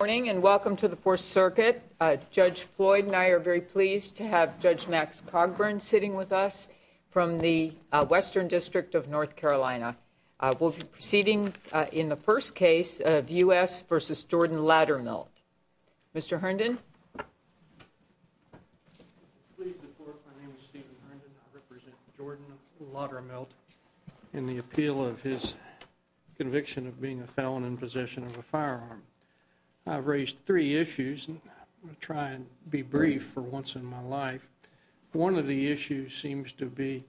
Good morning and welcome to the Fourth Circuit. Judge Floyd and I are very pleased to have Judge Max Cogburn sitting with us from the Western District of North Carolina. We'll be proceeding in the first case of U.S. v. Jordan Laudermilt. Mr. Herndon? Please report. My name is Stephen Herndon. I represent Jordan Laudermilt in the appeal of his conviction of being a felon in possession of a firearm. I've raised three issues, and I'm going to try and be brief for once in my life. One of the issues seems to be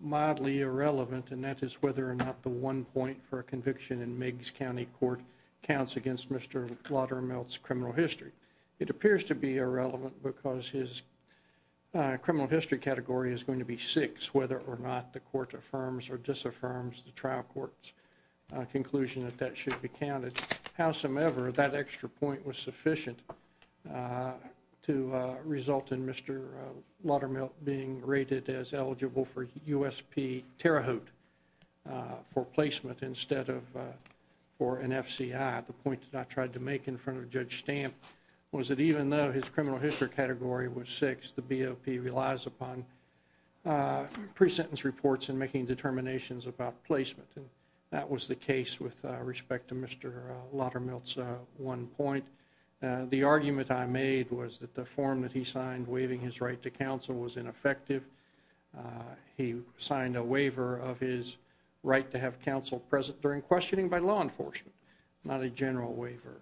mildly irrelevant, and that is whether or not the one point for a conviction in Meigs County Court counts against Mr. Laudermilt's criminal history. It appears to be irrelevant because his criminal history category is going to be six, whether or not the court affirms or disaffirms the trial court's conclusion that that should be counted. Howsoever, that extra point was sufficient to result in Mr. Laudermilt being rated as eligible for USP Terre Haute for placement instead of for an FCI. The point that I tried to make in front of Judge Stamp was that even though his criminal history category was six, the BOP relies upon pre-sentence reports and making determinations about placement. That was the case with respect to Mr. Laudermilt's one point. The argument I made was that the form that he signed waiving his right to counsel was ineffective. He signed a waiver of his right to have counsel present during questioning by law enforcement, not a general waiver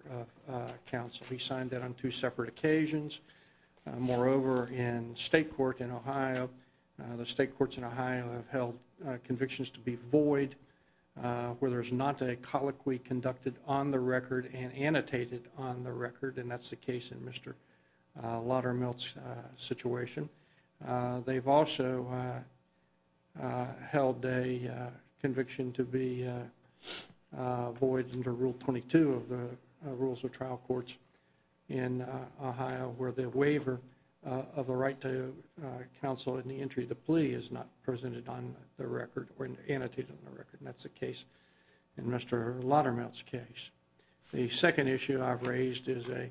of counsel. He signed that on two separate occasions. Moreover, in state court in Ohio, the state courts in Ohio have held convictions to be void where there's not a colloquy conducted on the record and annotated on the record, and that's the case in Mr. Laudermilt's situation. They've also held a conviction to be void under Rule 22 of the Rules of Trial Courts in Ohio where the waiver of a right to counsel in the entry of the plea is not presented on the record or annotated on the record, and that's the case in Mr. Laudermilt's case. The second issue I've raised is a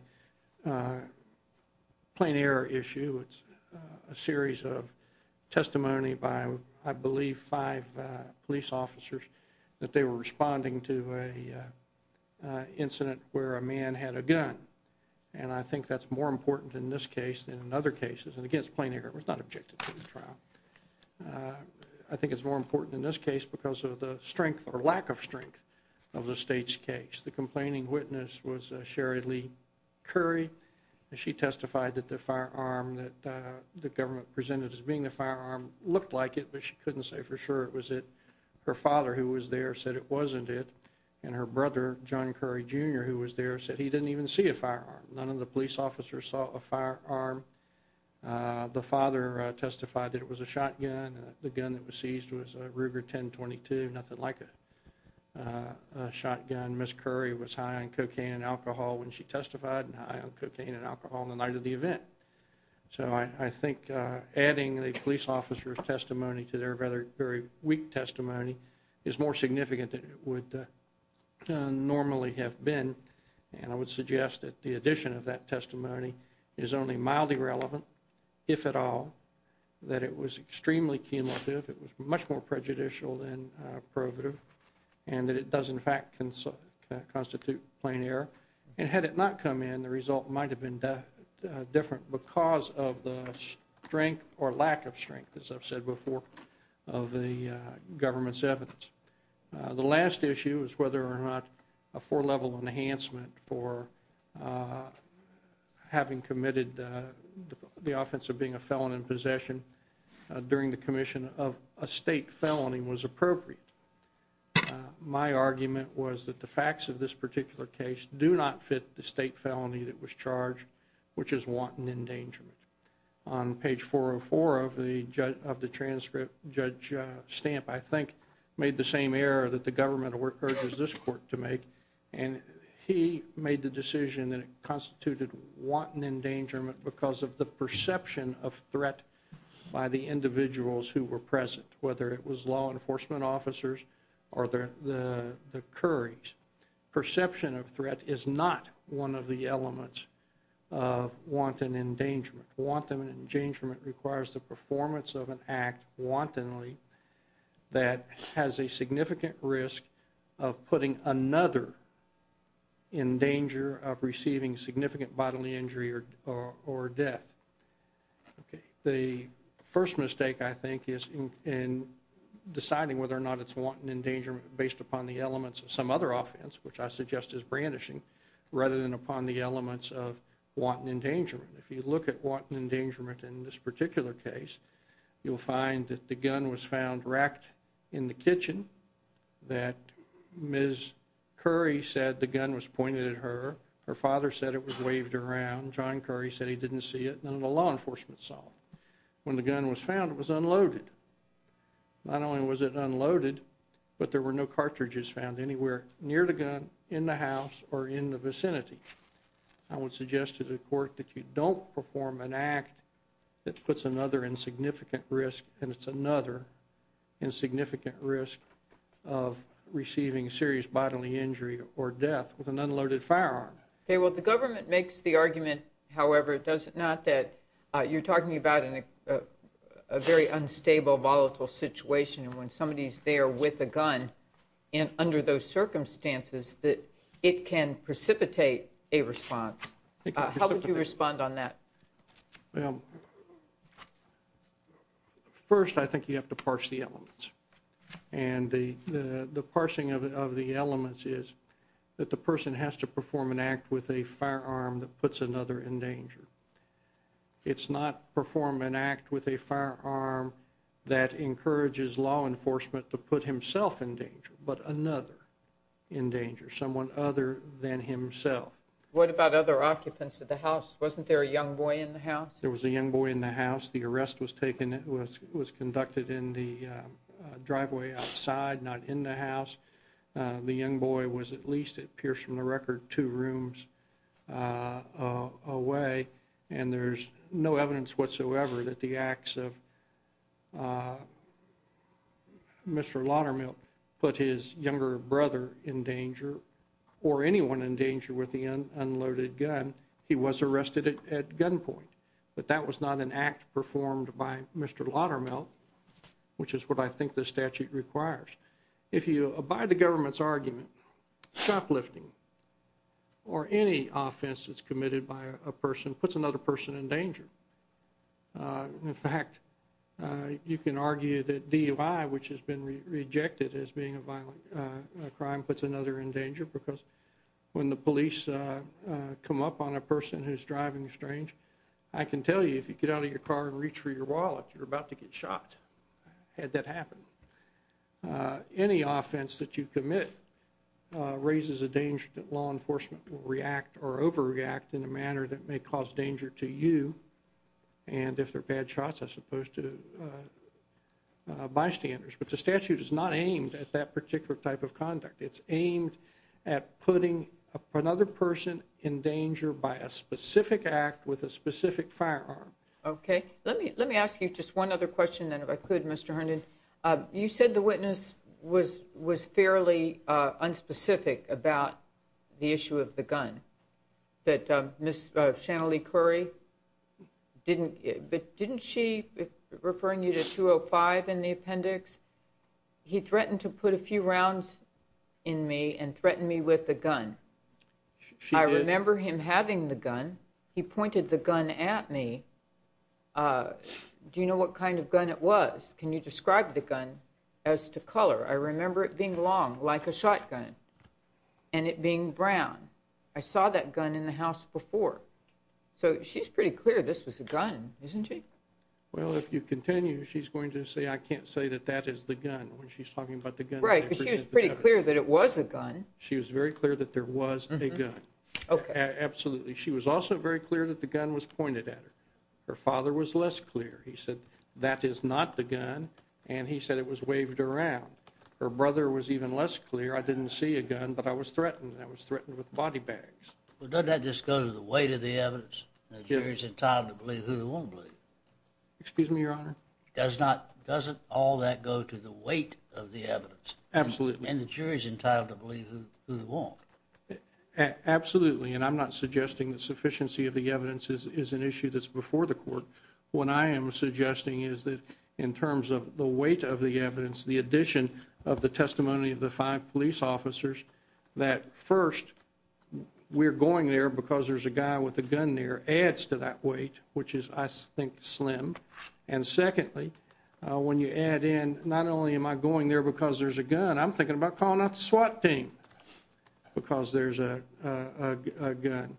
plain error issue. It's a series of testimony by, I believe, five police officers that they were responding to an incident where a man had a gun, and I think that's more important in this case than in other cases. And again, it's a plain error. It was not objected to in the trial. I think it's more important in this case because of the strength or lack of strength of the state's case. The complaining witness was Sherry Lee Curry, and she testified that the firearm that the government presented as being the firearm looked like it, but she couldn't say for sure it was it. Her father, who was there, said it wasn't it, and her brother, John Curry Jr., who was there, said he didn't even see a firearm. None of the police officers saw a firearm. The father testified that it was a shotgun. The gun that was seized was a Ruger 10-22, nothing like a shotgun. Ms. Curry was high on cocaine and alcohol when she testified and high on cocaine and alcohol on the night of the event. So I think adding a police officer's testimony to their very weak testimony is more significant than it would normally have been, and I would suggest that the addition of that testimony is only mildly relevant, if at all. I think it's important to note that it was extremely cumulative. It was much more prejudicial than probative, and that it does, in fact, constitute plain error. And had it not come in, the result might have been different because of the strength or lack of strength, as I've said before, of the government's evidence. The last issue is whether or not a four-level enhancement for having committed the offense of being a felon in possession during the commission of a state felony was appropriate. My argument was that the facts of this particular case do not fit the state felony that was charged, which is wanton endangerment. On page 404 of the transcript, Judge Stamp, I think, made the same error that the government urges this court to make, and he made the decision that it constituted wanton endangerment because of the perception of threat by the individuals who were present, whether it was law enforcement officers or the Curries. Perception of threat is not one of the elements of wanton endangerment. Wanton endangerment requires the performance of an act wantonly that has a significant risk of putting another in danger of receiving significant bodily injury or death. Okay. The first mistake, I think, is in deciding whether or not it's wanton endangerment based upon the elements of some other offense, which I suggest is brandishing, rather than upon the elements of wanton endangerment. If you look at wanton endangerment in this particular case, you'll find that the gun was found racked in the kitchen, that Ms. Curry said the gun was pointed at her, her father said it was waved around, John Curry said he didn't see it, none of the law enforcement saw it. When the gun was found, it was unloaded. Not only was it unloaded, but there were no cartridges found anywhere near the gun, in the house, or in the vicinity. I would suggest to the court that you don't perform an act that puts another in significant risk, and it's another in significant risk of receiving serious bodily injury or death with an unloaded firearm. Okay. Well, the government makes the argument, however, does it not, that you're talking about a very unstable, volatile situation, and when somebody's there with a gun, and under those circumstances, that it can precipitate a response. How would you respond on that? Well, first, I think you have to parse the elements, and the parsing of the elements is that the person has to perform an act with a firearm that puts another in danger. It's not perform an act with a firearm that encourages law enforcement to put himself in danger, but another in danger, someone other than himself. What about other occupants of the house? Wasn't there a young boy in the house? He was arrested at gunpoint, but that was not an act performed by Mr. Laudermill, which is what I think the statute requires. If you abide the government's argument, shoplifting or any offense that's committed by a person puts another person in danger. In fact, you can argue that DUI, which has been rejected as being a violent crime, puts another in danger because when the police come up on a person who's driving estranged, I can tell you if you get out of your car and reach for your wallet, you're about to get shot had that happened. Any offense that you commit raises a danger that law enforcement will react or overreact in a manner that may cause danger to you, and if they're bad shots, as opposed to bystanders. But the statute is not aimed at that particular type of conduct. It's aimed at putting another person in danger by a specific act with a specific firearm. Okay. Let me ask you just one other question, then, if I could, Mr. Herndon. You said the witness was fairly unspecific about the issue of the gun. That Ms. Shanalee Curry, didn't she, referring you to 205 in the appendix, he threatened to put a few rounds in me and threaten me with a gun. She did. I remember him having the gun. He pointed the gun at me. Do you know what kind of gun it was? Can you describe the gun as to color? I remember it being long, like a shotgun, and it being brown. I saw that gun in the house before. So she's pretty clear this was a gun, isn't she? Well, if you continue, she's going to say I can't say that that is the gun when she's talking about the gun. Right, because she was pretty clear that it was a gun. She was very clear that there was a gun. Okay. Absolutely. She was also very clear that the gun was pointed at her. Her father was less clear. He said that is not the gun, and he said it was waved around. Her brother was even less clear. I didn't see a gun, but I was threatened, and I was threatened with body bags. Well, doesn't that just go to the weight of the evidence? The jury's entitled to believe who they want to believe. Excuse me, Your Honor? Doesn't all that go to the weight of the evidence? Absolutely. And the jury's entitled to believe who they want. Absolutely. And I'm not suggesting that sufficiency of the evidence is an issue that's before the court. What I am suggesting is that in terms of the weight of the evidence, the addition of the testimony of the five police officers, that first, we're going there because there's a guy with a gun there adds to that weight, which is, I think, slim. And secondly, when you add in, not only am I going there because there's a gun, I'm thinking about calling out the SWAT team because there's a gun.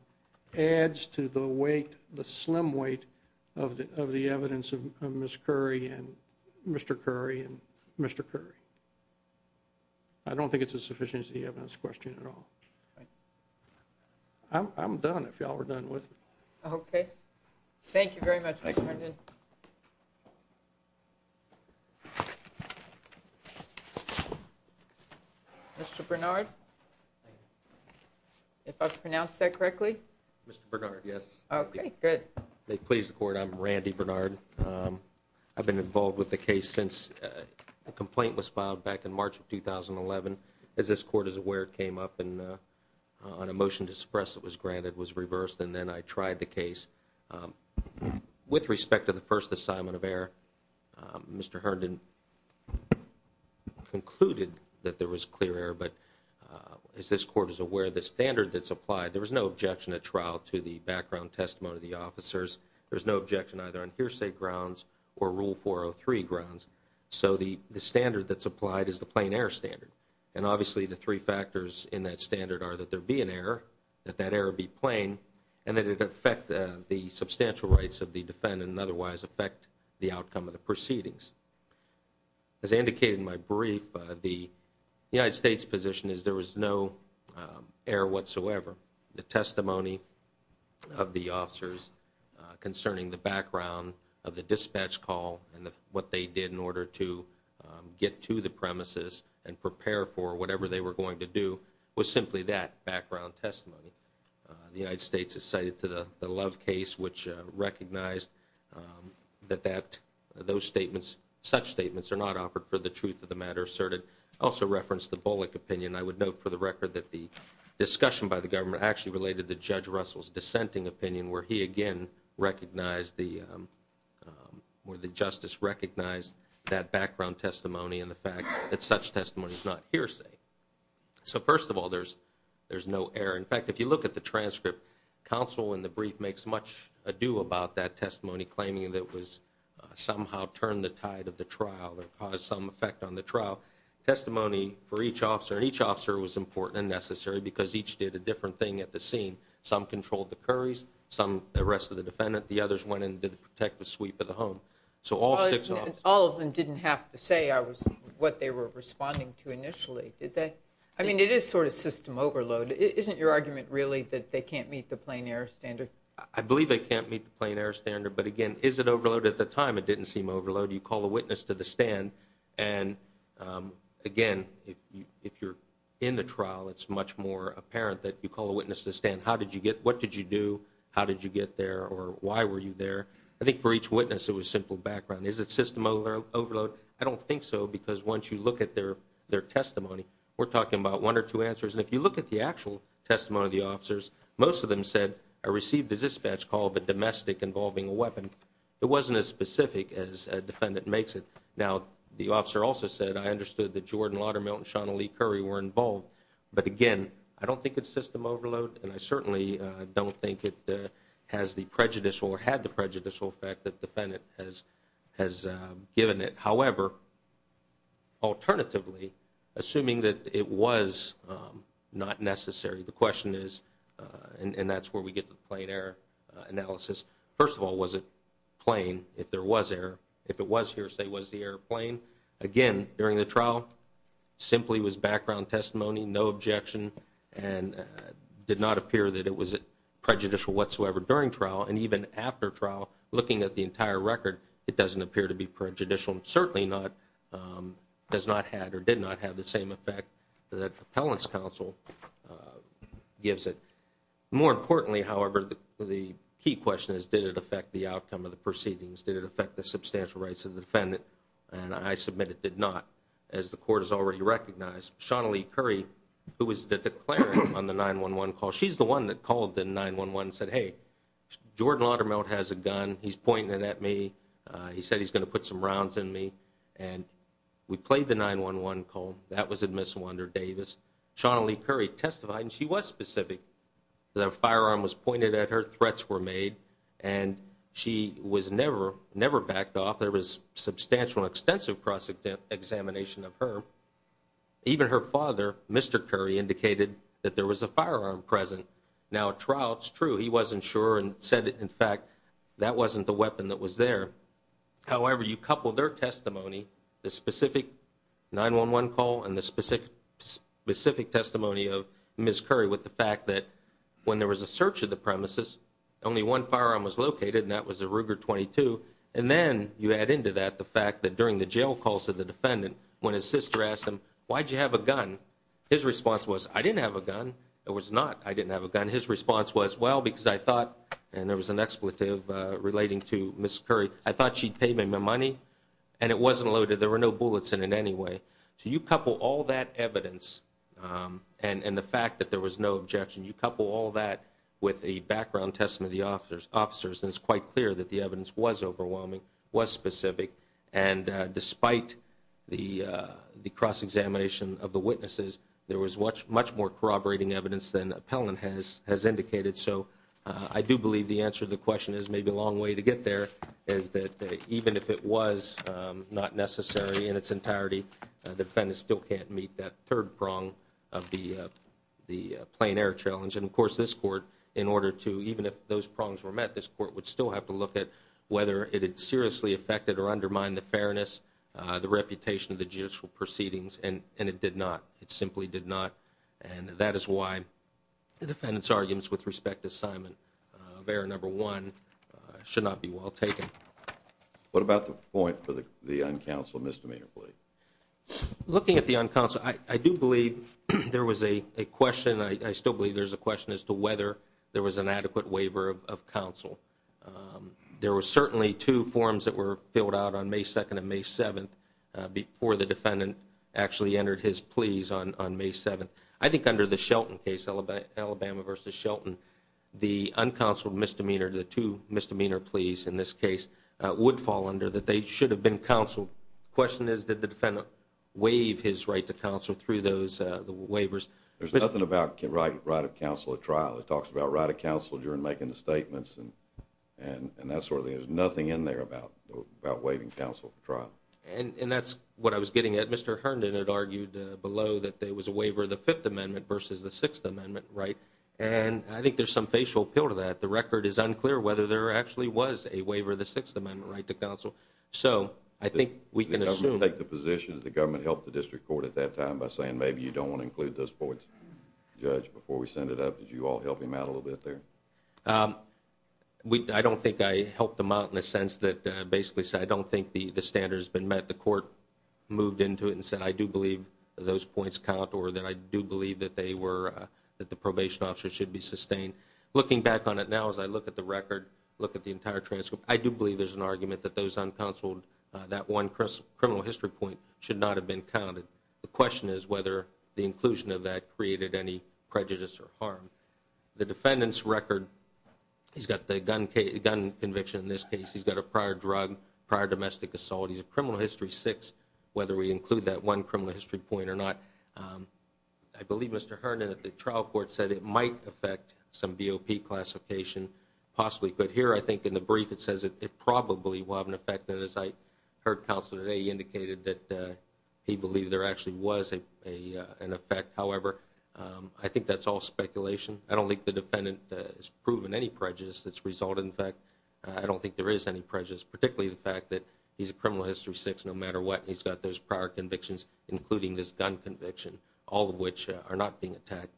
Adds to the weight, the slim weight, of the evidence of Ms. Curry and Mr. Curry and Mr. Curry. I don't think it's a sufficiency of the evidence question at all. I'm done, if y'all are done with me. Okay. Thank you very much, Mr. Harden. Mr. Bernard? If I've pronounced that correctly? Mr. Bernard, yes. Okay, good. Please, the court, I'm Randy Bernard. I've been involved with the case since the complaint was filed back in March of 2011. As this court is aware, it came up on a motion to suppress that was granted, was reversed, and then I tried the case. With respect to the first assignment of error, Mr. Herndon concluded that there was clear error. But as this court is aware, the standard that's applied, there was no objection at trial to the background testimony of the officers. There was no objection either on hearsay grounds or Rule 403 grounds. So the standard that's applied is the plain error standard. And obviously the three factors in that standard are that there be an error, that that error be plain, and that it affect the substantial rights of the defendant and otherwise affect the outcome of the proceedings. As I indicated in my brief, the United States position is there was no error whatsoever. The testimony of the officers concerning the background of the dispatch call and what they did in order to get to the premises and prepare for whatever they were going to do was simply that, background testimony. The United States is cited to the Love case, which recognized that those statements, such statements are not offered for the truth of the matter asserted. Also referenced the Bullock opinion. I would note for the record that the discussion by the government actually related to Judge Russell's dissenting opinion, where he again recognized the, where the justice recognized that background testimony and the fact that such testimony is not hearsay. So first of all, there's no error. In fact, if you look at the transcript, counsel in the brief makes much ado about that testimony, claiming that it was somehow turned the tide of the trial or caused some effect on the trial. Testimony for each officer, and each officer was important and necessary because each did a different thing at the scene. Some controlled the Curry's, some arrested the defendant. The others went in to protect the sweep of the home. So all six officers. All of them didn't have to say what they were responding to initially, did they? I mean, it is sort of system overload. Isn't your argument really that they can't meet the plain error standard? I believe they can't meet the plain error standard, but again, is it overloaded at the time? It didn't seem overloaded. You call a witness to the stand, and again, if you're in the trial, it's much more apparent that you call a witness to the stand. What did you do? How did you get there? Or why were you there? I think for each witness, it was simple background. Is it system overload? I don't think so because once you look at their testimony, we're talking about one or two answers. And if you look at the actual testimony of the officers, most of them said, I received a dispatch call of a domestic involving a weapon. It wasn't as specific as a defendant makes it. Now, the officer also said, I understood that Jordan Laudermill and Sean Lee Curry were involved. But again, I don't think it's system overload, and I certainly don't think it has the prejudicial or had the prejudicial effect that the defendant has given it. However, alternatively, assuming that it was not necessary, the question is, and that's where we get to the plain error analysis. First of all, was it plain if there was error? If it was here, say, was the airplane? Again, during the trial, simply was background testimony, no objection, and did not appear that it was prejudicial whatsoever during trial. And even after trial, looking at the entire record, it doesn't appear to be prejudicial, and certainly does not have or did not have the same effect that appellant's counsel gives it. More importantly, however, the key question is, did it affect the outcome of the proceedings? Did it affect the substantial rights of the defendant? And I submit it did not, as the court has already recognized. Sean Lee Curry, who was the declarer on the 911 call, she's the one that called the 911 and said, hey, Jordan Laudermill has a gun. He's pointing it at me. He said he's going to put some rounds in me. And we played the 911 call. That was in Miss Wander Davis. Sean Lee Curry testified, and she was specific. The firearm was pointed at her. Threats were made, and she was never backed off. There was substantial and extensive cross-examination of her. Even her father, Mr. Curry, indicated that there was a firearm present. Now, at trial, it's true. He wasn't sure and said, in fact, that wasn't the weapon that was there. However, you couple their testimony, the specific 911 call and the specific testimony of Miss Curry with the fact that when there was a search of the premises, only one firearm was located, and that was a Ruger .22. And then you add into that the fact that during the jail calls to the defendant, when his sister asked him, why did you have a gun, his response was, I didn't have a gun. It was not, I didn't have a gun. His response was, well, because I thought, and there was an expletive relating to Miss Curry, I thought she'd pay me my money, and it wasn't loaded. There were no bullets in it anyway. So you couple all that evidence and the fact that there was no objection, you couple all that with a background testimony of the officers, and it's quite clear that the evidence was overwhelming, was specific. And despite the cross-examination of the witnesses, there was much more corroborating evidence than Appellant has indicated. So I do believe the answer to the question is, maybe a long way to get there, is that even if it was not necessary in its entirety, the defendant still can't meet that third prong of the plain error challenge. And, of course, this Court, in order to, even if those prongs were met, this Court would still have to look at whether it had seriously affected or undermined the fairness, the reputation of the judicial proceedings, and it did not. It simply did not. And that is why the defendant's arguments with respect to assignment of error number one should not be well taken. What about the point for the uncounseled misdemeanor plea? Looking at the uncounseled, I do believe there was a question. I still believe there's a question as to whether there was an adequate waiver of counsel. There were certainly two forms that were filled out on May 2nd and May 7th before the defendant actually entered his pleas on May 7th. I think under the Shelton case, Alabama v. Shelton, the uncounseled misdemeanor, the two misdemeanor pleas in this case, would fall under that they should have been counseled. The question is, did the defendant waive his right to counsel through those waivers? There's nothing about right of counsel at trial. It talks about right of counsel during making the statements, and that sort of thing. There's nothing in there about waiving counsel for trial. And that's what I was getting at. Mr. Herndon had argued below that there was a waiver of the Fifth Amendment versus the Sixth Amendment, right? And I think there's some facial appeal to that. The record is unclear whether there actually was a waiver of the Sixth Amendment right to counsel. So I think we can assume. Did the government take the position? Did the government help the district court at that time by saying, maybe you don't want to include those points? Judge, before we send it up, did you all help him out a little bit there? I don't think I helped him out in the sense that, basically, I don't think the standard has been met. The court moved into it and said, I do believe those points count, or that I do believe that the probation officer should be sustained. And looking back on it now as I look at the record, look at the entire transcript, I do believe there's an argument that those uncounseled, that one criminal history point should not have been counted. The question is whether the inclusion of that created any prejudice or harm. The defendant's record, he's got the gun conviction in this case, he's got a prior drug, prior domestic assault, he's a criminal history six, whether we include that one criminal history point or not. I believe, Mr. Herndon, that the trial court said it might affect some BOP classification, possibly. But here, I think, in the brief, it says it probably will have an effect. And as I heard counsel today, he indicated that he believed there actually was an effect. However, I think that's all speculation. I don't think the defendant has proven any prejudice that's resulted in effect. I don't think there is any prejudice, particularly the fact that he's a criminal history six, no matter what, he's got those prior convictions, including this gun conviction, all of which are not being attacked.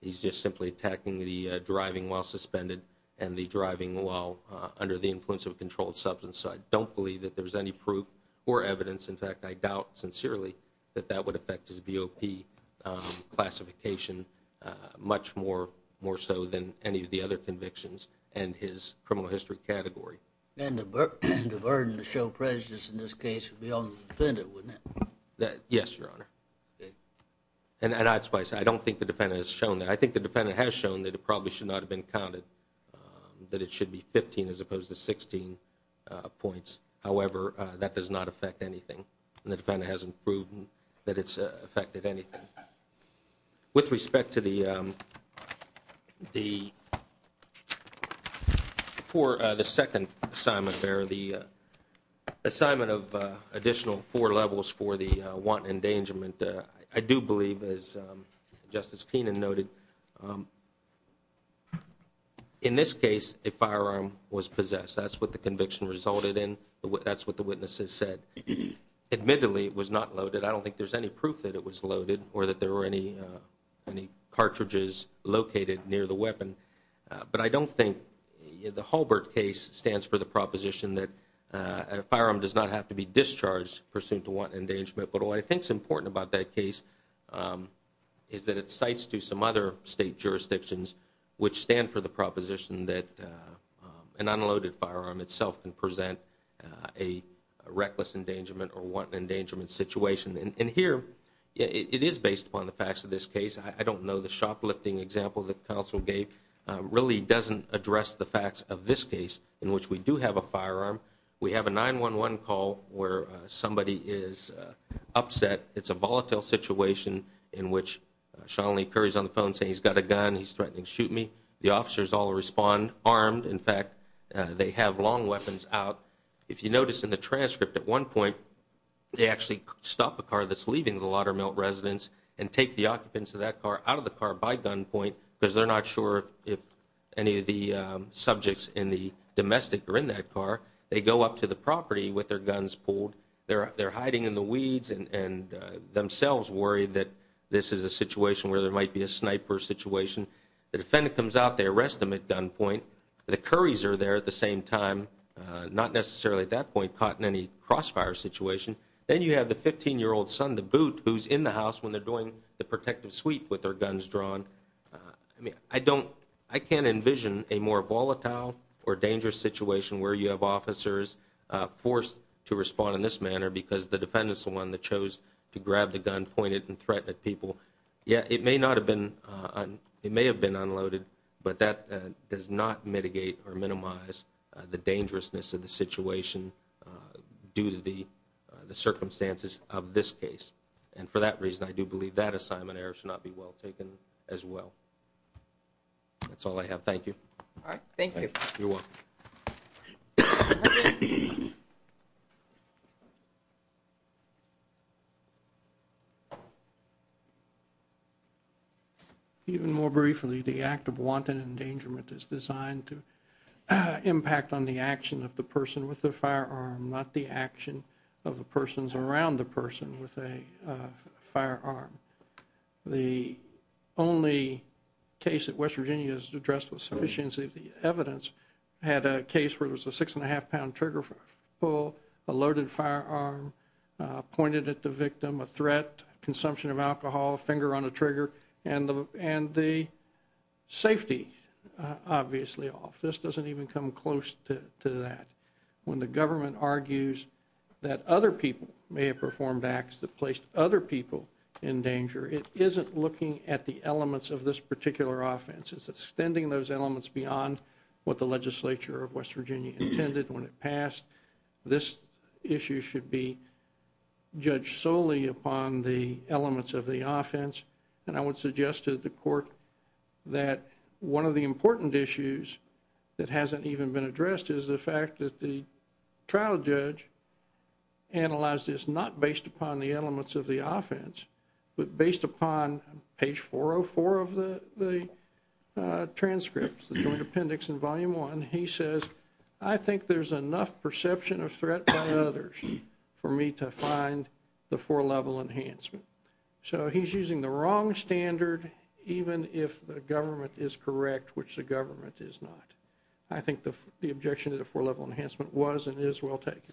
He's just simply attacking the driving while suspended and the driving while under the influence of a controlled substance. So I don't believe that there's any proof or evidence. In fact, I doubt, sincerely, that that would affect his BOP classification much more so than any of the other convictions and his criminal history category. And the burden to show prejudice in this case would be on the defendant, wouldn't it? Yes, Your Honor. And I don't think the defendant has shown that. I think the defendant has shown that it probably should not have been counted, that it should be 15 as opposed to 16 points. However, that does not affect anything. And the defendant hasn't proven that it's affected anything. With respect to the second assignment, the assignment of additional four levels for the want and endangerment, I do believe, as Justice Keenan noted, in this case a firearm was possessed. That's what the conviction resulted in. That's what the witnesses said. Admittedly, it was not loaded. I don't think there's any proof that it was loaded or that there were any cartridges located near the weapon. But I don't think the Halbert case stands for the proposition that a firearm does not have to be discharged pursuant to want and endangerment. But what I think is important about that case is that it cites to some other state jurisdictions, which stand for the proposition that an unloaded firearm itself can present a reckless endangerment or want and endangerment situation. And here, it is based upon the facts of this case. I don't know the shoplifting example that counsel gave really doesn't address the facts of this case, in which we do have a firearm. We have a 911 call where somebody is upset. It's a volatile situation in which Sean Lee Curry is on the phone saying he's got a gun, he's threatening to shoot me. The officers all respond armed. In fact, they have long weapons out. If you notice in the transcript at one point, they actually stop a car that's leaving the Laudermill residence and take the occupants of that car out of the car by gunpoint because they're not sure if any of the subjects in the domestic are in that car. They go up to the property with their guns pulled. They're hiding in the weeds and themselves worried that this is a situation where there might be a sniper situation. The defendant comes out. They arrest them at gunpoint. The Curries are there at the same time, not necessarily at that point caught in any crossfire situation. Then you have the 15-year-old son, the boot, who's in the house when they're doing the protective sweep with their guns drawn. I can't envision a more volatile or dangerous situation where you have officers forced to respond in this manner because the defendant is the one that chose to grab the gun, point it, and threaten people. Yeah, it may have been unloaded, but that does not mitigate or minimize the dangerousness of the situation due to the circumstances of this case. For that reason, I do believe that assignment error should not be well taken as well. That's all I have. Thank you. Thank you. You're welcome. Even more briefly, the act of wanton endangerment is designed to impact on the action of the person with the firearm, not the action of the persons around the person with a firearm. The only case that West Virginia has addressed with sufficiency of the evidence had a case where there was a 6-1⁄2-pound trigger pull, a loaded firearm pointed at the victim, a threat, consumption of alcohol, finger on a trigger, and the safety obviously off. This doesn't even come close to that. When the government argues that other people may have performed acts that placed other people in danger, it isn't looking at the elements of this particular offense. It's extending those elements beyond what the legislature of West Virginia intended when it passed. This issue should be judged solely upon the elements of the offense, and I would suggest to the court that one of the important issues that hasn't even been addressed is the fact that the trial judge analyzed this not based upon the elements of the offense, but based upon page 404 of the transcripts, the joint appendix in volume one. He says, I think there's enough perception of threat by others for me to find the four-level enhancement. So he's using the wrong standard, even if the government is correct, which the government is not. I think the objection to the four-level enhancement was and is well taken.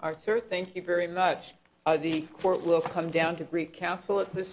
All right, sir, thank you very much. The court will come down to brief counsel at this time.